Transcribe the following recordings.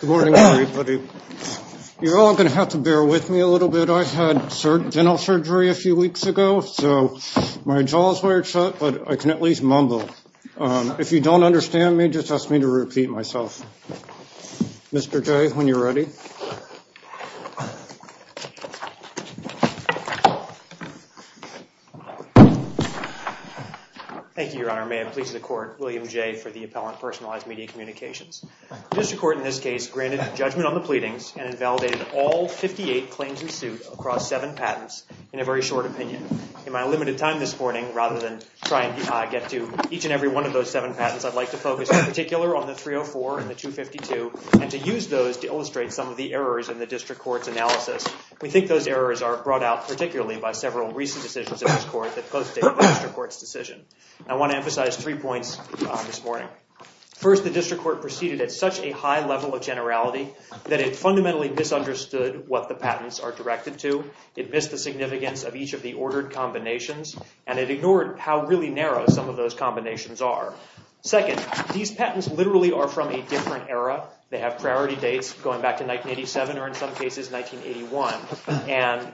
Good morning everybody. You're all going to have to bear with me a little bit. I had dental surgery a few weeks ago so my jaw is wired shut but I can at least mumble. If you don't understand me just ask me to repeat myself. Mr. Jay when you're ready. Thank you your honor. May I please record William Jay for the appellant personalized media communications. The district court in this case granted judgment on the pleadings and invalidated all 58 claims in suit across seven patents in a very short opinion. In my limited time this morning rather than try and get to each and every one of those seven patents I'd like to focus in particular on the 304 and the 252 and to use those to illustrate some of the errors in the district court's analysis. We think those errors are brought out particularly by several recent decisions in this court that both state the district court's decision. I want to emphasize three points this morning. First the district court proceeded at such a high level of generality that it fundamentally misunderstood what the patents are directed to. It missed the significance of each of the ordered combinations and it ignored how really narrow some of those combinations are. Second these patents literally are from a different era. They have priority dates going back to 1987 or in some cases 1981 and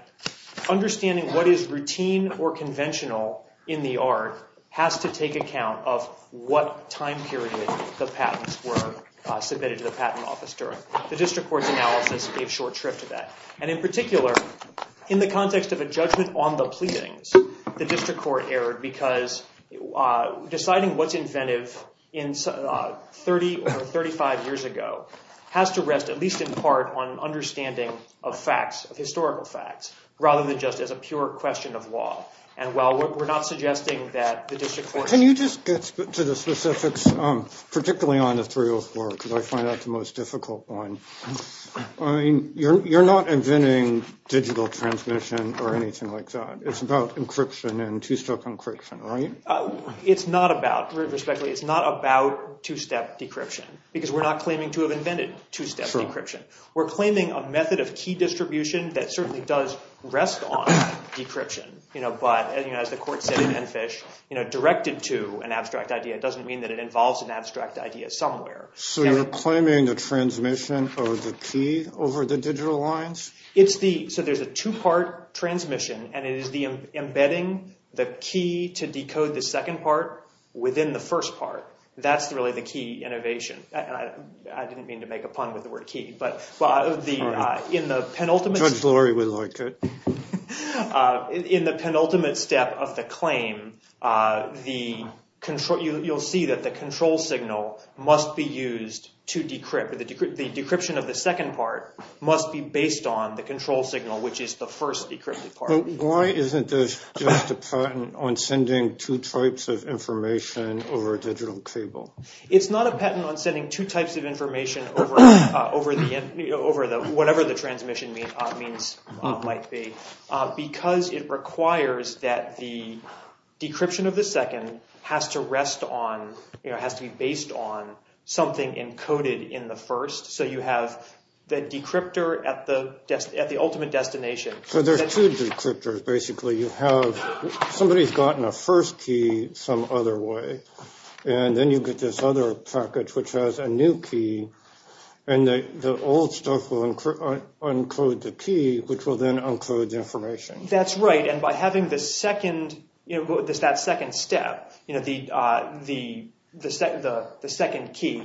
understanding what is routine or conventional in the art has to take account of what time period the patents were submitted to the patent office during. The district court's analysis gave short shrift to that and in particular in the context of a judgment on the pleadings the district court erred because deciding what's inventive in 30 or 35 years ago has to rest at least in part on understanding of facts of historical facts rather than just as a pure question of law and while we're not suggesting that the district court... Can you just get to the specifics particularly on the 304 because I find that the most difficult one. I mean you're not inventing digital transmission or anything like that. It's about encryption and two-step encryption, right? It's not about, respectfully, it's not about two-step decryption because we're not claiming to have invented two-step encryption. We're claiming a method of key distribution that certainly does rest on decryption but as the court said in Enfish, directed to an abstract idea doesn't mean that it involves an abstract idea somewhere. So you're claiming the transmission of the key over the digital lines? So there's a two-part transmission and it is the embedding the key to decode the but in the penultimate step of the claim, you'll see that the control signal must be used to decrypt. The decryption of the second part must be based on the control signal which is the first decrypted part. Why isn't this just a patent on sending two types of information over a digital over the whatever the transmission means might be? Because it requires that the decryption of the second has to rest on you know has to be based on something encoded in the first so you have the decryptor at the ultimate destination. So there's two decryptors basically you have somebody's gotten a first key some other way and then you get this other package which has a new key and the old stuff will encode the key which will then encode the information. That's right and by having this second you know this that second step you know the second key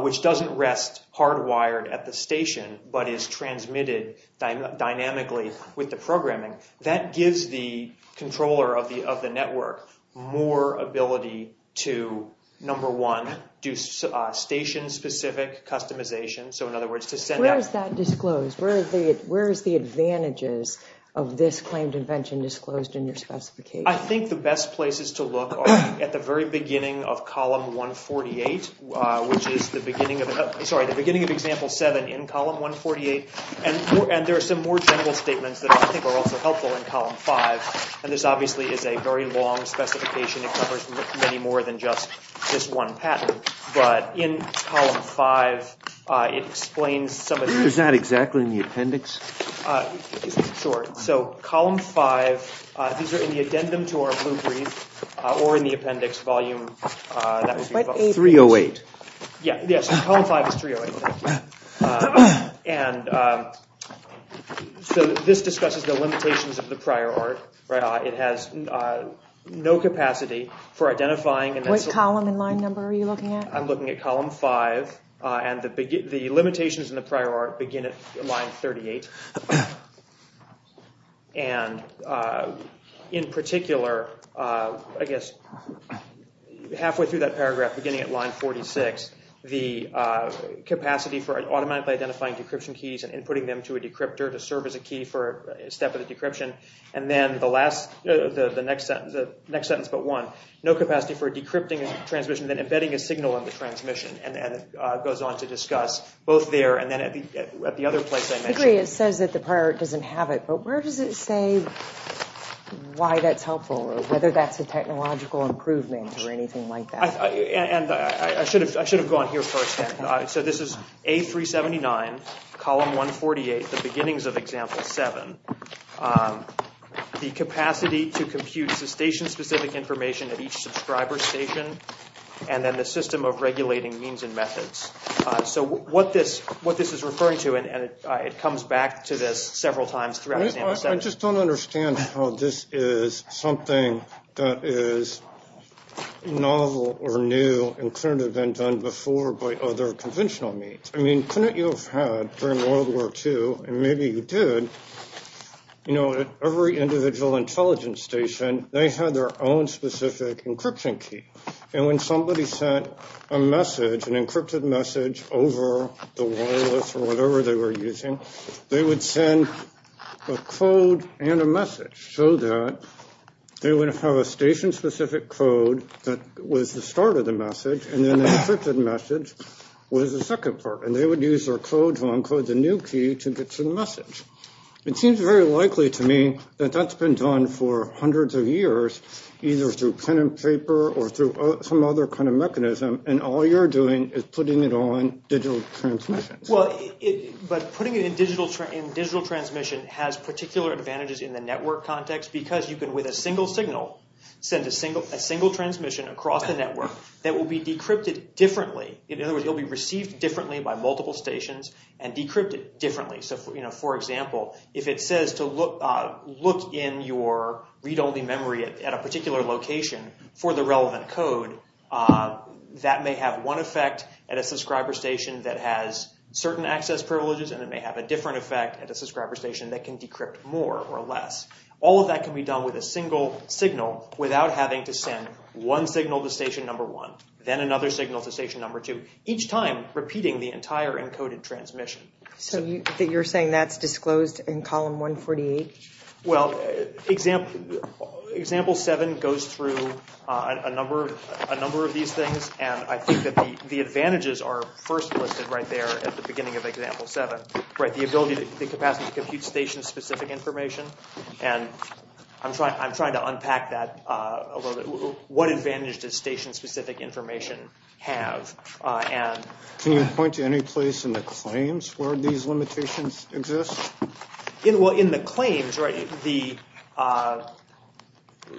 which doesn't rest hardwired at the station but is transmitted dynamically with the programming that gives the controller of the of the network more ability to number one do station specific customization so in other words to send out. Where is that disclosed? Where is the advantages of this claim to invention disclosed in your specification? I think the best places to look at the very beginning of column 148 which is the beginning of sorry the beginning of example 7 in helpful in column 5 and this obviously is a very long specification it covers many more than just just one pattern but in column 5 it explains. Is that exactly in the appendix? Sure so column 5 these are in the addendum to our blue brief or in the appendix volume 308. Yeah yes column 5 is 308 and so this discusses the limitations of the prior art right it has no capacity for identifying. What column and line number are you looking at? I'm looking at column 5 and the limitations in the prior art begin at line 38 and in particular I guess halfway through that paragraph beginning at line 46 the capacity for automatically identifying decryption keys and inputting them to a decryptor to serve as a key for a step of the decryption and then the last the the next sentence the next sentence but one no capacity for decrypting a transmission then embedding a signal in the transmission and have it but where does it say why that's helpful or whether that's a technological improvement or anything like that and I should have I should have gone here first so this is A379 column 148 the beginnings of example 7 the capacity to compute cessation specific information at each subscriber station and then the system of regulating means and methods so what this what this is referring to and it comes back to this several times throughout I just don't understand how this is something that is novel or new and could have been done before by other conventional means I mean couldn't you have had during world war ii and maybe you did you know every individual intelligence station they had their own specific encryption key and when somebody sent a message an encrypted message over the wireless or whatever they were using they would send a code and a message so that they would have a station specific code that was the start of the message and then the encrypted message was the second part and they would use their code to encode the new key to get to the message it seems very likely to me that that's been done for and all you're doing is putting it on digital transmission well but putting it in digital in digital transmission has particular advantages in the network context because you can with a single signal send a single a single transmission across the network that will be decrypted differently in other words you'll be received differently by multiple stations and decrypted differently so you know for example if it says to look uh look in your read-only memory at a location for the relevant code that may have one effect at a subscriber station that has certain access privileges and it may have a different effect at a subscriber station that can decrypt more or less all of that can be done with a single signal without having to send one signal to station number one then another signal to station number two each time repeating the entire encoded transmission so you that you're saying that's disclosed in column 148 well example example 7 goes through a number of a number of these things and i think that the the advantages are first listed right there at the beginning of example 7 right the ability to the capacity to compute station specific information and i'm trying i'm trying to unpack that uh a little bit what advantage does station specific information have uh and can you point to any place in the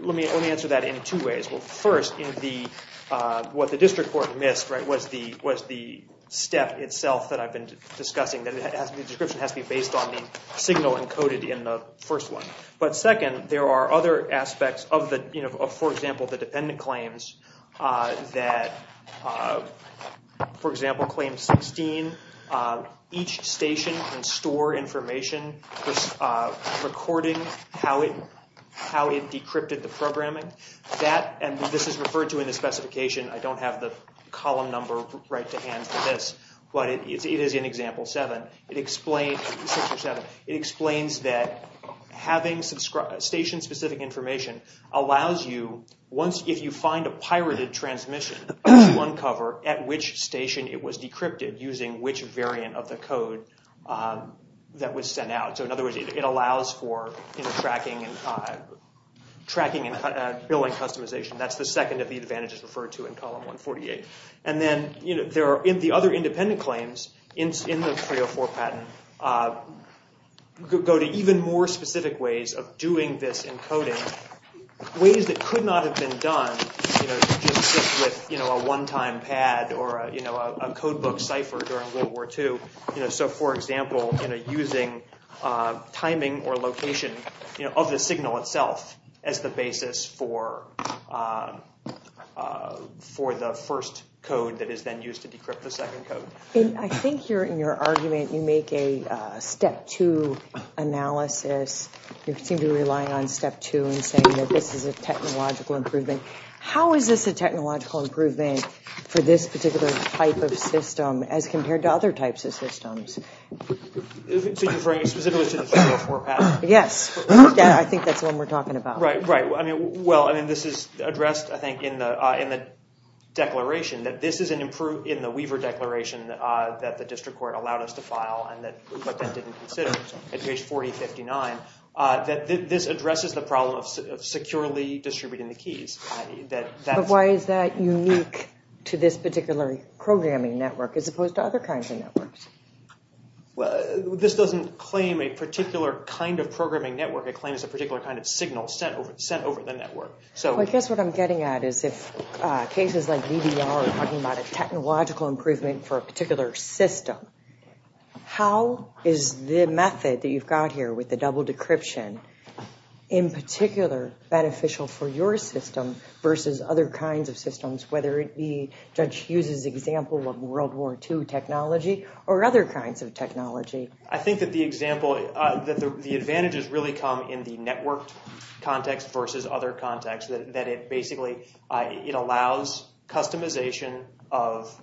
let me let me answer that in two ways well first in the uh what the district court missed right was the was the step itself that i've been discussing that it has the description has to be based on the signal encoded in the first one but second there are other aspects of the you know for example the dependent claims uh that uh for example claim 16 uh each station can store information uh recording how it how it decrypted the programming that and this is referred to in the specification i don't have the column number right to hand for this but it is in example seven it explains six or seven it explains that having subscribe station specific information allows you once if you find a pirated transmission there's one cover at which station it was that was sent out so in other words it allows for you know tracking and uh tracking and billing customization that's the second of the advantages referred to in column 148 and then you know there are in the other independent claims in in the 304 patent uh go to even more specific ways of doing this encoding ways that could not have been done you know just with you know a one-time pad or a codebook cipher during world war ii you know so for example you know using timing or location you know of the signal itself as the basis for for the first code that is then used to decrypt the second code i think you're in your argument you make a step two analysis you seem to be relying on step two and saying that this is a improvement for this particular type of system as compared to other types of systems yes yeah i think that's what we're talking about right right i mean well i mean this is addressed i think in the uh in the declaration that this is an improved in the weaver declaration uh that the district court allowed us to file and that but then didn't consider at page 4059 that this addresses the problem of securely distributing the keys that that why is that unique to this particular programming network as opposed to other kinds of networks well this doesn't claim a particular kind of programming network it claims a particular kind of signal sent over sent over the network so i guess what i'm getting at is if cases like vdr are talking about a technological improvement for a particular system how is the method that you've got here with double decryption in particular beneficial for your system versus other kinds of systems whether it be judge hughes's example of world war ii technology or other kinds of technology i think that the example uh that the advantages really come in the networked context versus other contexts that it basically uh it allows customization of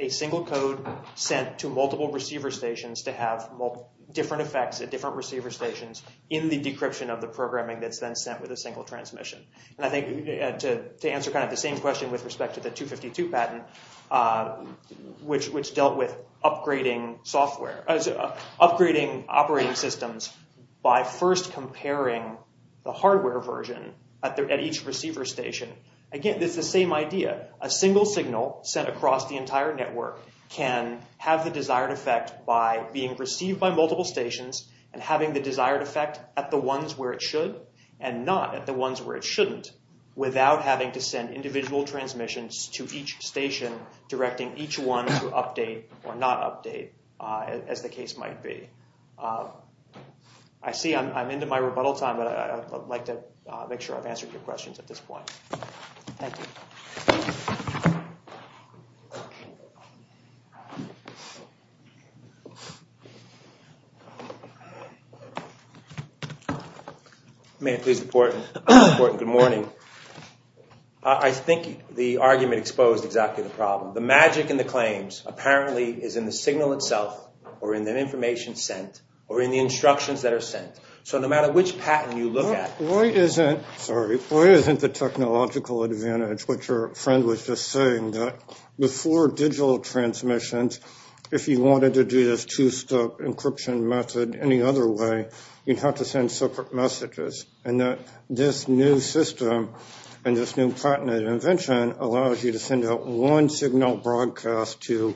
a single code sent to multiple receiver stations to have multiple different effects at different receiver stations in the decryption of the programming that's then sent with a single transmission and i think to to answer kind of the same question with respect to the 252 patent uh which which dealt with upgrading software as upgrading operating systems by first comparing the hardware version at each receiver station again it's the same idea a single signal sent across the entire network can have the desired effect by being received by multiple stations and having the desired effect at the ones where it should and not at the ones where it shouldn't without having to send individual transmissions to each station directing each one to update or not update uh as the case might be uh i see i'm into my rebuttal time but i'd like to make sure i've answered your questions at this point thank you you may please report good morning i think the argument exposed exactly the problem the magic and the claims apparently is in the signal itself or in the information sent or in the instructions that are sent so no matter which patent you look at why isn't sorry why isn't the technological advantage what your friend was just saying that before digital transmissions if you wanted to do this two-step encryption method any other way you'd have to send separate messages and that this new system and this new patented invention allows you to send out one signal broadcast to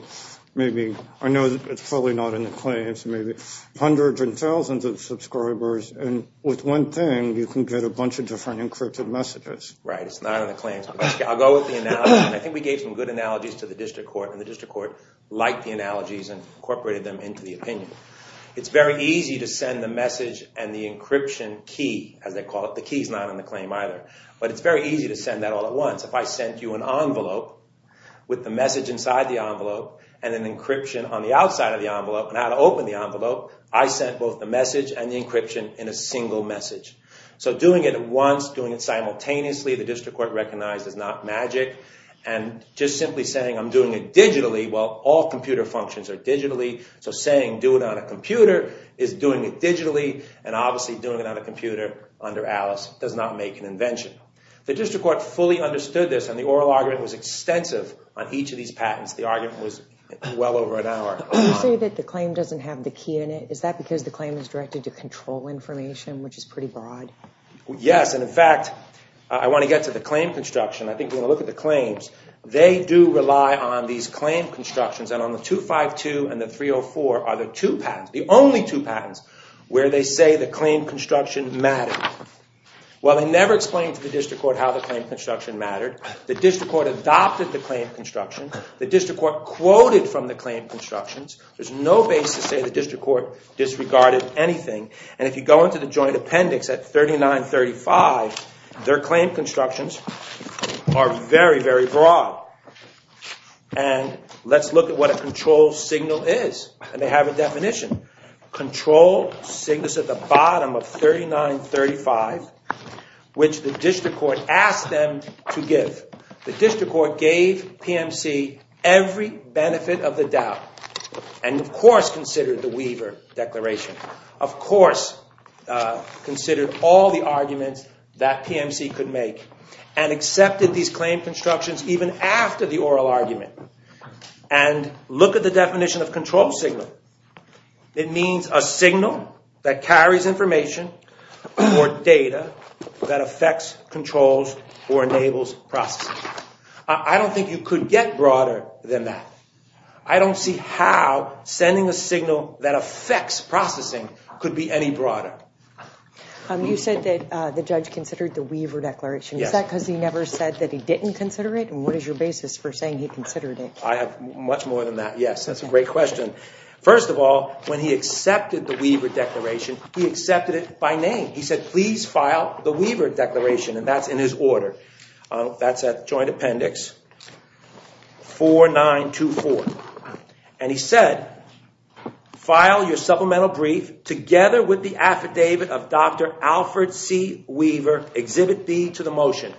maybe i know it's probably not in the claims maybe hundreds and thousands of subscribers and with one thing you can get a bunch of different encrypted messages right it's not on the claims i'll go with the analogy i think we gave some good analogies to the district court and the district court liked the analogies and incorporated them into the opinion it's very easy to send the message and the encryption key as they call it the key's not on the claim either but it's very easy to send that all at once if i sent you an envelope with the message inside the envelope and an encryption on the outside of the envelope and how to open the envelope i sent both the message and the encryption in a single message so doing it once doing it simultaneously the district court magic and just simply saying i'm doing it digitally while all computer functions are digitally so saying do it on a computer is doing it digitally and obviously doing it on a computer under alice does not make an invention the district court fully understood this and the oral argument was extensive on each of these patents the argument was well over an hour you say that the claim doesn't have the key in it is that because the claim is directed to control information which is pretty broad yes and in fact i want to get to the claim construction i think when i look at the claims they do rely on these claim constructions and on the 252 and the 304 are the two patents the only two patents where they say the claim construction mattered well they never explained to the district court how the claim construction mattered the district court adopted the claim construction the district court quoted from the claim constructions there's no basis to say the appendix at 39 35 their claim constructions are very very broad and let's look at what a control signal is and they have a definition control sickness at the bottom of 39 35 which the district court asked them to give the district court gave pmc every benefit of the doubt and of course considered the weaver declaration of course considered all the arguments that pmc could make and accepted these claim constructions even after the oral argument and look at the definition of control signal it means a signal that carries information or data that affects controls or enables processing i don't think you could get broader than that i don't see how sending a signal that affects processing could be any broader um you said that uh the judge considered the weaver declaration is that because he never said that he didn't consider it and what is your basis for saying he considered it i have much more than that yes that's a great question first of all when he accepted the weaver declaration he accepted it by name he said please file the weaver declaration and that's in his order that's a joint appendix 4924 and he said file your supplemental brief together with the affidavit of dr alfred c weaver exhibit b to the motion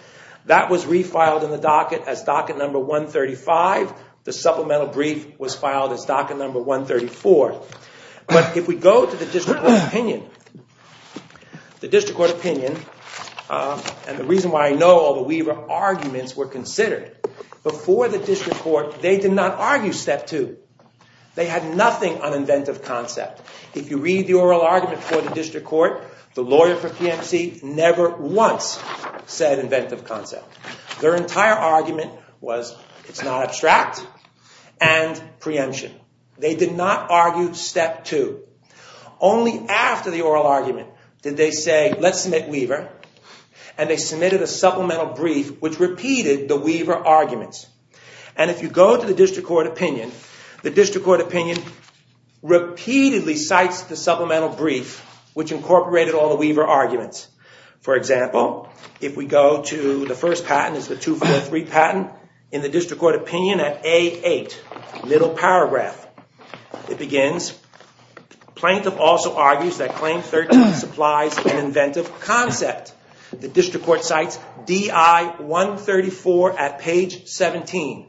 that was refiled in the docket as docket number 135 the supplemental brief was filed as docket number 134 but if we go to the district opinion the district court opinion and the reason why i know all the weaver arguments were considered before the district court they did not argue step two they had nothing on inventive concept if you read the oral argument for the district court the lawyer for pmc never once said inventive concept their entire argument was it's not abstract and preemption they did not argue step two only after the oral argument did they say let's submit weaver and they submitted a supplemental brief which repeated the weaver arguments and if you go to the district court opinion the district court opinion repeatedly cites the supplemental brief which incorporated all the weaver arguments for example if we go to the first patent is the 243 patent in the district court opinion at a8 middle paragraph it begins plaintiff also argues supplies and inventive concept the district court cites di 134 at page 17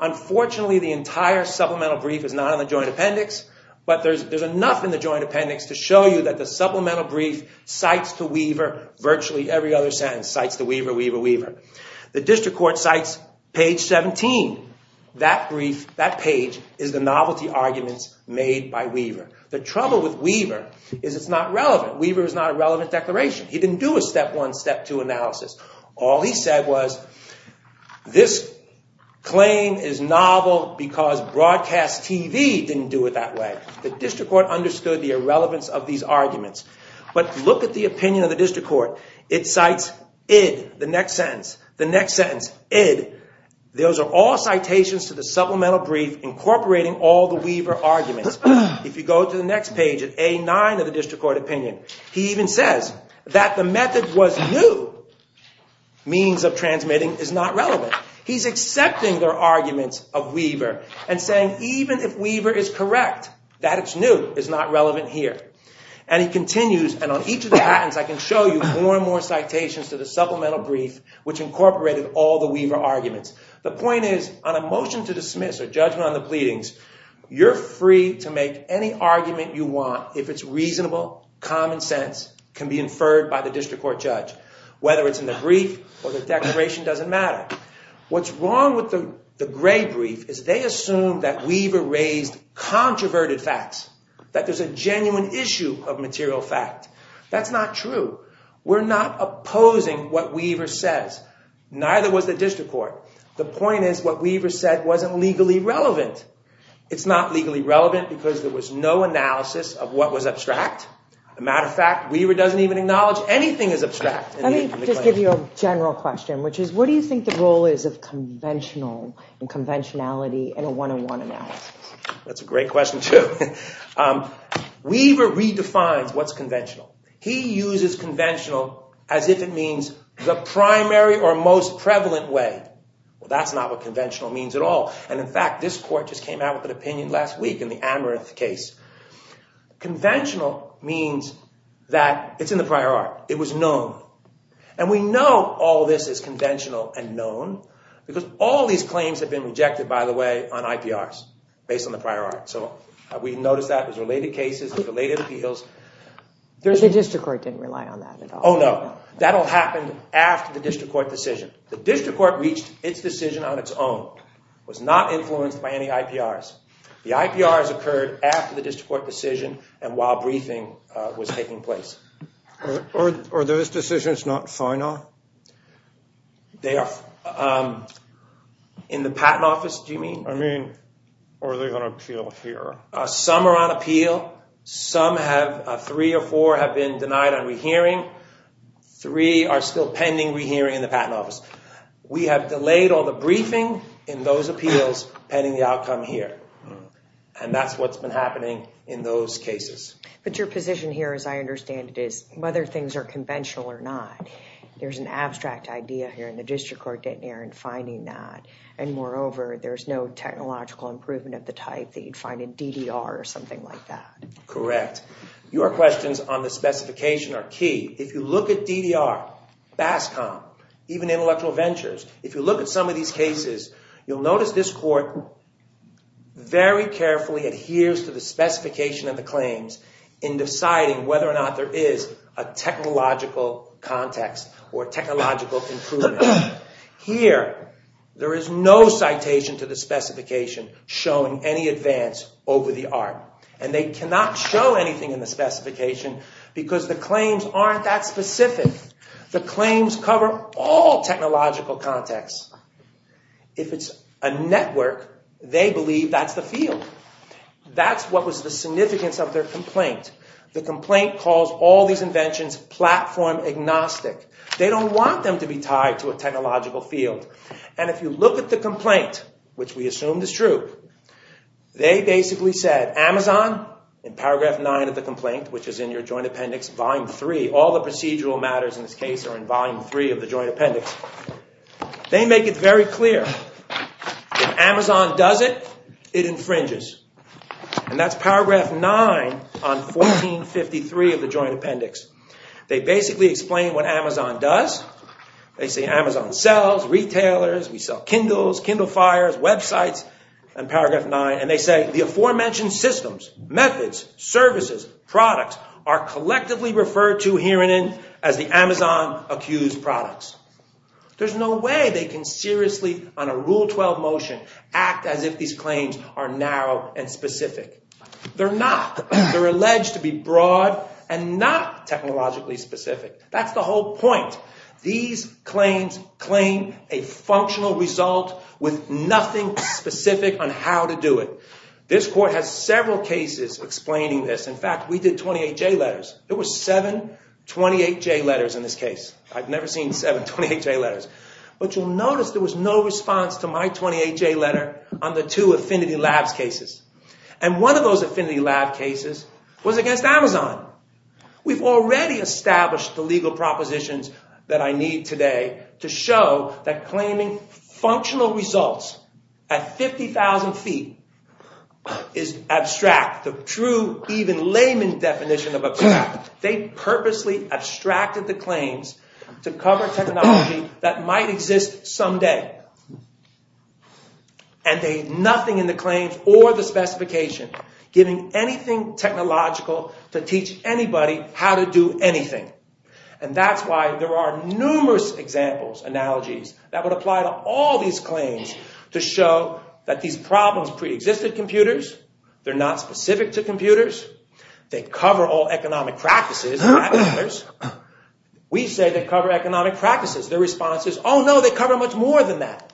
unfortunately the entire supplemental brief is not on the joint appendix but there's there's enough in the joint appendix to show you that the supplemental brief cites to weaver virtually every other sentence cites the weaver weaver weaver the district court cites page 17 that brief that page is the novelty arguments made by weaver the trouble with weaver is it's not relevant weaver is not a relevant declaration he didn't do a step one step two analysis all he said was this claim is novel because broadcast tv didn't do it that way the district court understood the irrelevance of these arguments but look at the opinion of the district court it cites id the next sentence the next arguments if you go to the next page at a9 of the district court opinion he even says that the method was new means of transmitting is not relevant he's accepting their arguments of weaver and saying even if weaver is correct that it's new is not relevant here and he continues and on each of the patents i can show you more and more citations to the supplemental brief which incorporated all the weaver arguments the point is on a motion to dismiss or judgment on you're free to make any argument you want if it's reasonable common sense can be inferred by the district court judge whether it's in the brief or the declaration doesn't matter what's wrong with the the gray brief is they assume that weaver raised controverted facts that there's a genuine issue of material fact that's not true we're not opposing what weaver says neither was the district the point is what weaver said wasn't legally relevant it's not legally relevant because there was no analysis of what was abstract a matter of fact weaver doesn't even acknowledge anything is abstract let me just give you a general question which is what do you think the role is of conventional and conventionality in a one-on-one analysis that's a great question too um weaver redefines what's conventional he uses conventional as if it means the primary or most prevalent way well that's not what conventional means at all and in fact this court just came out with an opinion last week in the amaranth case conventional means that it's in the prior art it was known and we know all this is conventional and known because all these claims have been rejected by the way on iprs based on the prior art so we noticed that it was related cases related appeals there's a district court didn't rely on that at all oh no that'll happen after the district court decision the district court reached its decision on its own was not influenced by any iprs the iprs occurred after the district court decision and while briefing uh was taking place or or those decisions not final they are um in the patent office do you mean i mean are they going to feel here uh some are on appeal some have three or four have been denied on rehearing three are still pending rehearing in the patent office we have delayed all the briefing in those appeals pending the outcome here and that's what's been happening in those cases but your position here as i understand it is whether things are conventional or not there's an abstract idea here in the district court getting here and finding that and moreover there's no technological improvement of the type that you'd find in ddr or something like that correct your questions on the specification are key if you look at ddr bascom even intellectual ventures if you look at some of these cases you'll notice this court very carefully adheres to the specification of the claims in deciding whether or not there is a technological context or technological improvement here there is no citation to the specification showing any advance over the art and they cannot show anything in the specification because the claims aren't that specific the claims cover all technological contexts if it's a network they believe that's the field that's what was the significance of their complaint the complaint calls all these inventions platform agnostic they don't want them to be tied to a technological field and if you look at the complaint which we assumed is true they basically said amazon in paragraph nine of the complaint which is in your joint appendix volume three all the procedural matters in this case are in volume three of the joint appendix they make it very clear if amazon does it it infringes and that's paragraph nine on 1453 of the joint appendix they basically explain what amazon does they say amazon sells retailers we and paragraph nine and they say the aforementioned systems methods services products are collectively referred to here in as the amazon accused products there's no way they can seriously on a rule 12 motion act as if these claims are narrow and specific they're not they're alleged to be broad and not technologically specific that's the whole point these claims claim a functional result with nothing specific on how to do it this court has several cases explaining this in fact we did 28j letters there were seven 28j letters in this case i've never seen seven 28j letters but you'll notice there was no response to my 28j letter on the two affinity labs cases and one of those affinity lab cases was against amazon we've already established the legal propositions that i need today to show that claiming functional results at 50 000 feet is abstract the true even layman definition of a they purposely abstracted the claims to cover technology that might exist someday and they nothing in the claims or the specification giving anything technological to teach anybody how to do anything and that's why there are numerous examples analogies that would apply to all these claims to show that these problems pre-existed computers they're not specific to computers they cover all economic practices we say they cover economic practices their responses oh no they cover much more than that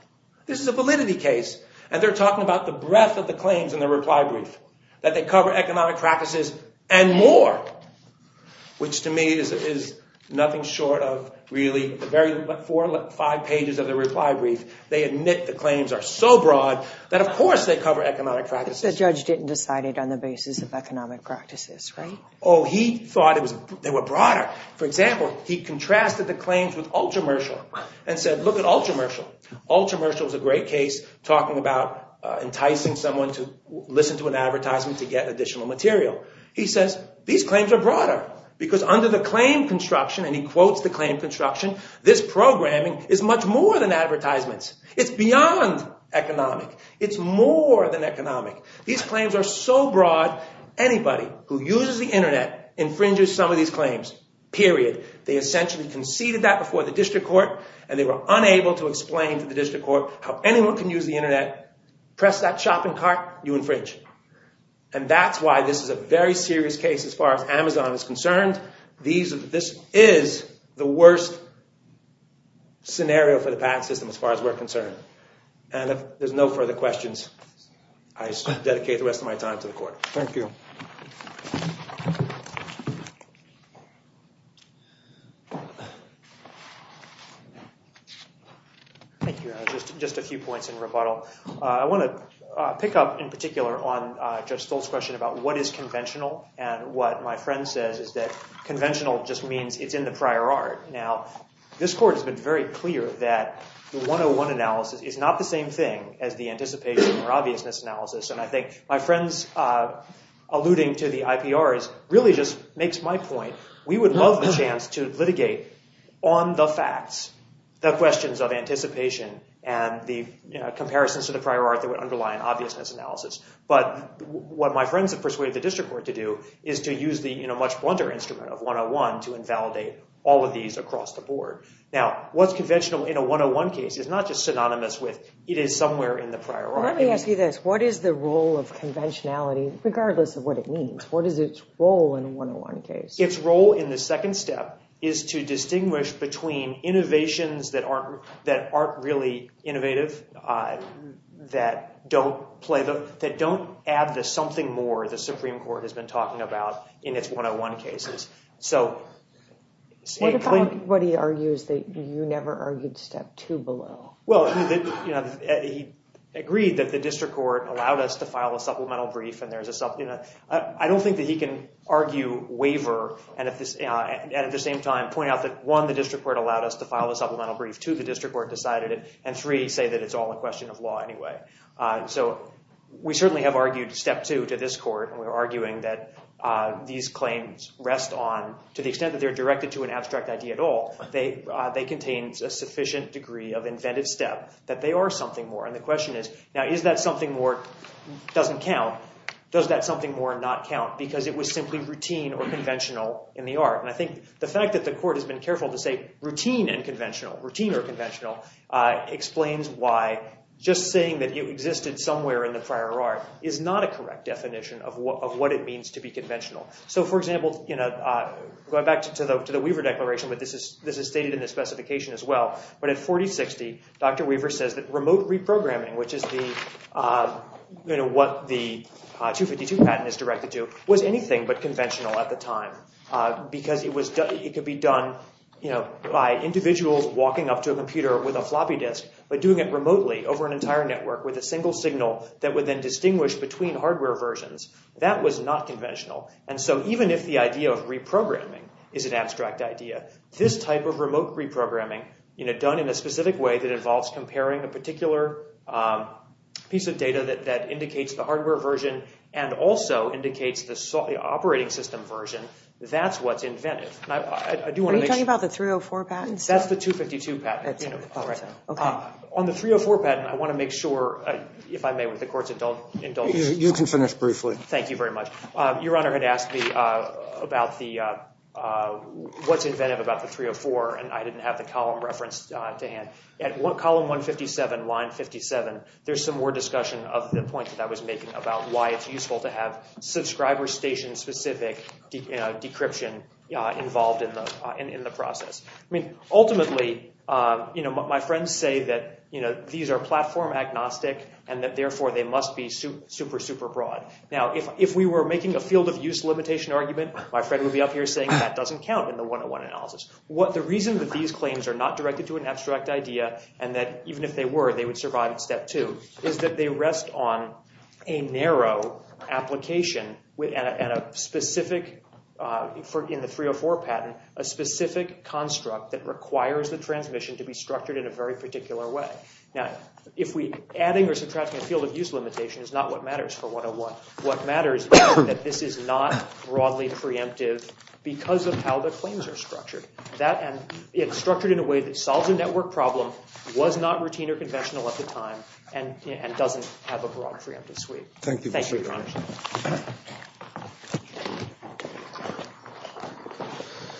this is a validity case and they're talking about the breadth of the claims in the reply brief that they cover economic practices and more which to me is nothing short of really the very four or five pages of the reply brief they admit the claims are so broad that of course they cover economic practices the judge didn't decide it on the basis of economic practices right oh he thought it was they were broader for example he contrasted the claims with ultra ultra commercial was a great case talking about enticing someone to listen to an advertisement to get additional material he says these claims are broader because under the claim construction and he quotes the claim construction this programming is much more than advertisements it's beyond economic it's more than economic these claims are so broad anybody who uses the internet infringes some of these claims period they essentially conceded that before the district court and they were unable to explain to the district court how anyone can use the internet press that shopping cart you infringe and that's why this is a very serious case as far as amazon is concerned these this is the worst scenario for the patent system as far as we're concerned and if there's no further questions i dedicate the rest of my time to the court thank you thank you just just a few points in rebuttal i want to pick up in particular on uh judge stoltz question about what is conventional and what my friend says is that conventional just means it's in the prior art now this court has been very clear that the 101 analysis is not the same thing as the anticipation or obviousness analysis and i think my friends uh alluding to the ipr is really just makes my point we would love the chance to litigate on the facts the questions of anticipation and the comparisons to the prior art that would underlie an obviousness analysis but what my friends have persuaded the district court to do is to use the you know much blunder instrument of 101 to invalidate all of these across the board now what's conventional in a 101 case is not just synonymous with it is somewhere in the prior let me ask you this what is the role of conventionality regardless of what it means what is its role in 101 case its role in the second step is to distinguish between innovations that aren't that aren't really innovative uh that don't play the that don't add the something more the supreme court has been talking about in its 101 cases so what about what he argues that you never argued step two below well you know he agreed that the district court allowed us to file a supplemental brief and there's a sub you know i don't think that he can argue waiver and at this uh and at the same time point out that one the district court allowed us to file a supplemental brief to the district court decided and three say that it's all a question of law anyway uh so we certainly have argued step two to this court and we're arguing that uh these claims rest on to the extent that they're directed to an abstract idea at all they they contain a sufficient degree of inventive step that they are something more and the question is now is that something more doesn't count does that something more not count because it was simply routine or conventional in the art and i think the fact that the court has been careful to say routine and conventional routine or conventional uh explains why just saying that it existed somewhere in the prior art is not a correct definition of what of so for example you know uh going back to the weaver declaration but this is this is stated in the specification as well but at 4060 dr weaver says that remote reprogramming which is the uh you know what the 252 patent is directed to was anything but conventional at the time uh because it was done it could be done you know by individuals walking up to a computer with a floppy disk but doing it remotely over an entire network with a single signal that would then and so even if the idea of reprogramming is an abstract idea this type of remote reprogramming you know done in a specific way that involves comparing a particular um piece of data that that indicates the hardware version and also indicates the operating system version that's what's inventive i do want to talk about the 304 patents that's the 252 patent on the 304 patent i want to make sure if i may with the court's adult indulge you can finish briefly thank you very much uh your honor had asked me uh about the uh uh what's inventive about the 304 and i didn't have the column reference uh to hand at column 157 line 57 there's some more discussion of the point that i was making about why it's useful to have subscriber station specific decryption uh involved in the in the process i mean ultimately uh you know my friends say that you know these are platform agnostic and that therefore they must be super super broad now if if we were making a field of use limitation argument my friend would be up here saying that doesn't count in the 101 analysis what the reason that these claims are not directed to an abstract idea and that even if they were they would survive at step two is that they rest on a narrow application with and a specific uh for in the 304 patent a specific construct that requires the transmission to be structured in a very particular way now if we adding or subtracting a field of use limitation is not what matters for 101 what matters is that this is not broadly preemptive because of how the claims are structured that and it's structured in a way that solves a network problem was not routine or conventional at the time and and doesn't have a broad preemptive suite thank you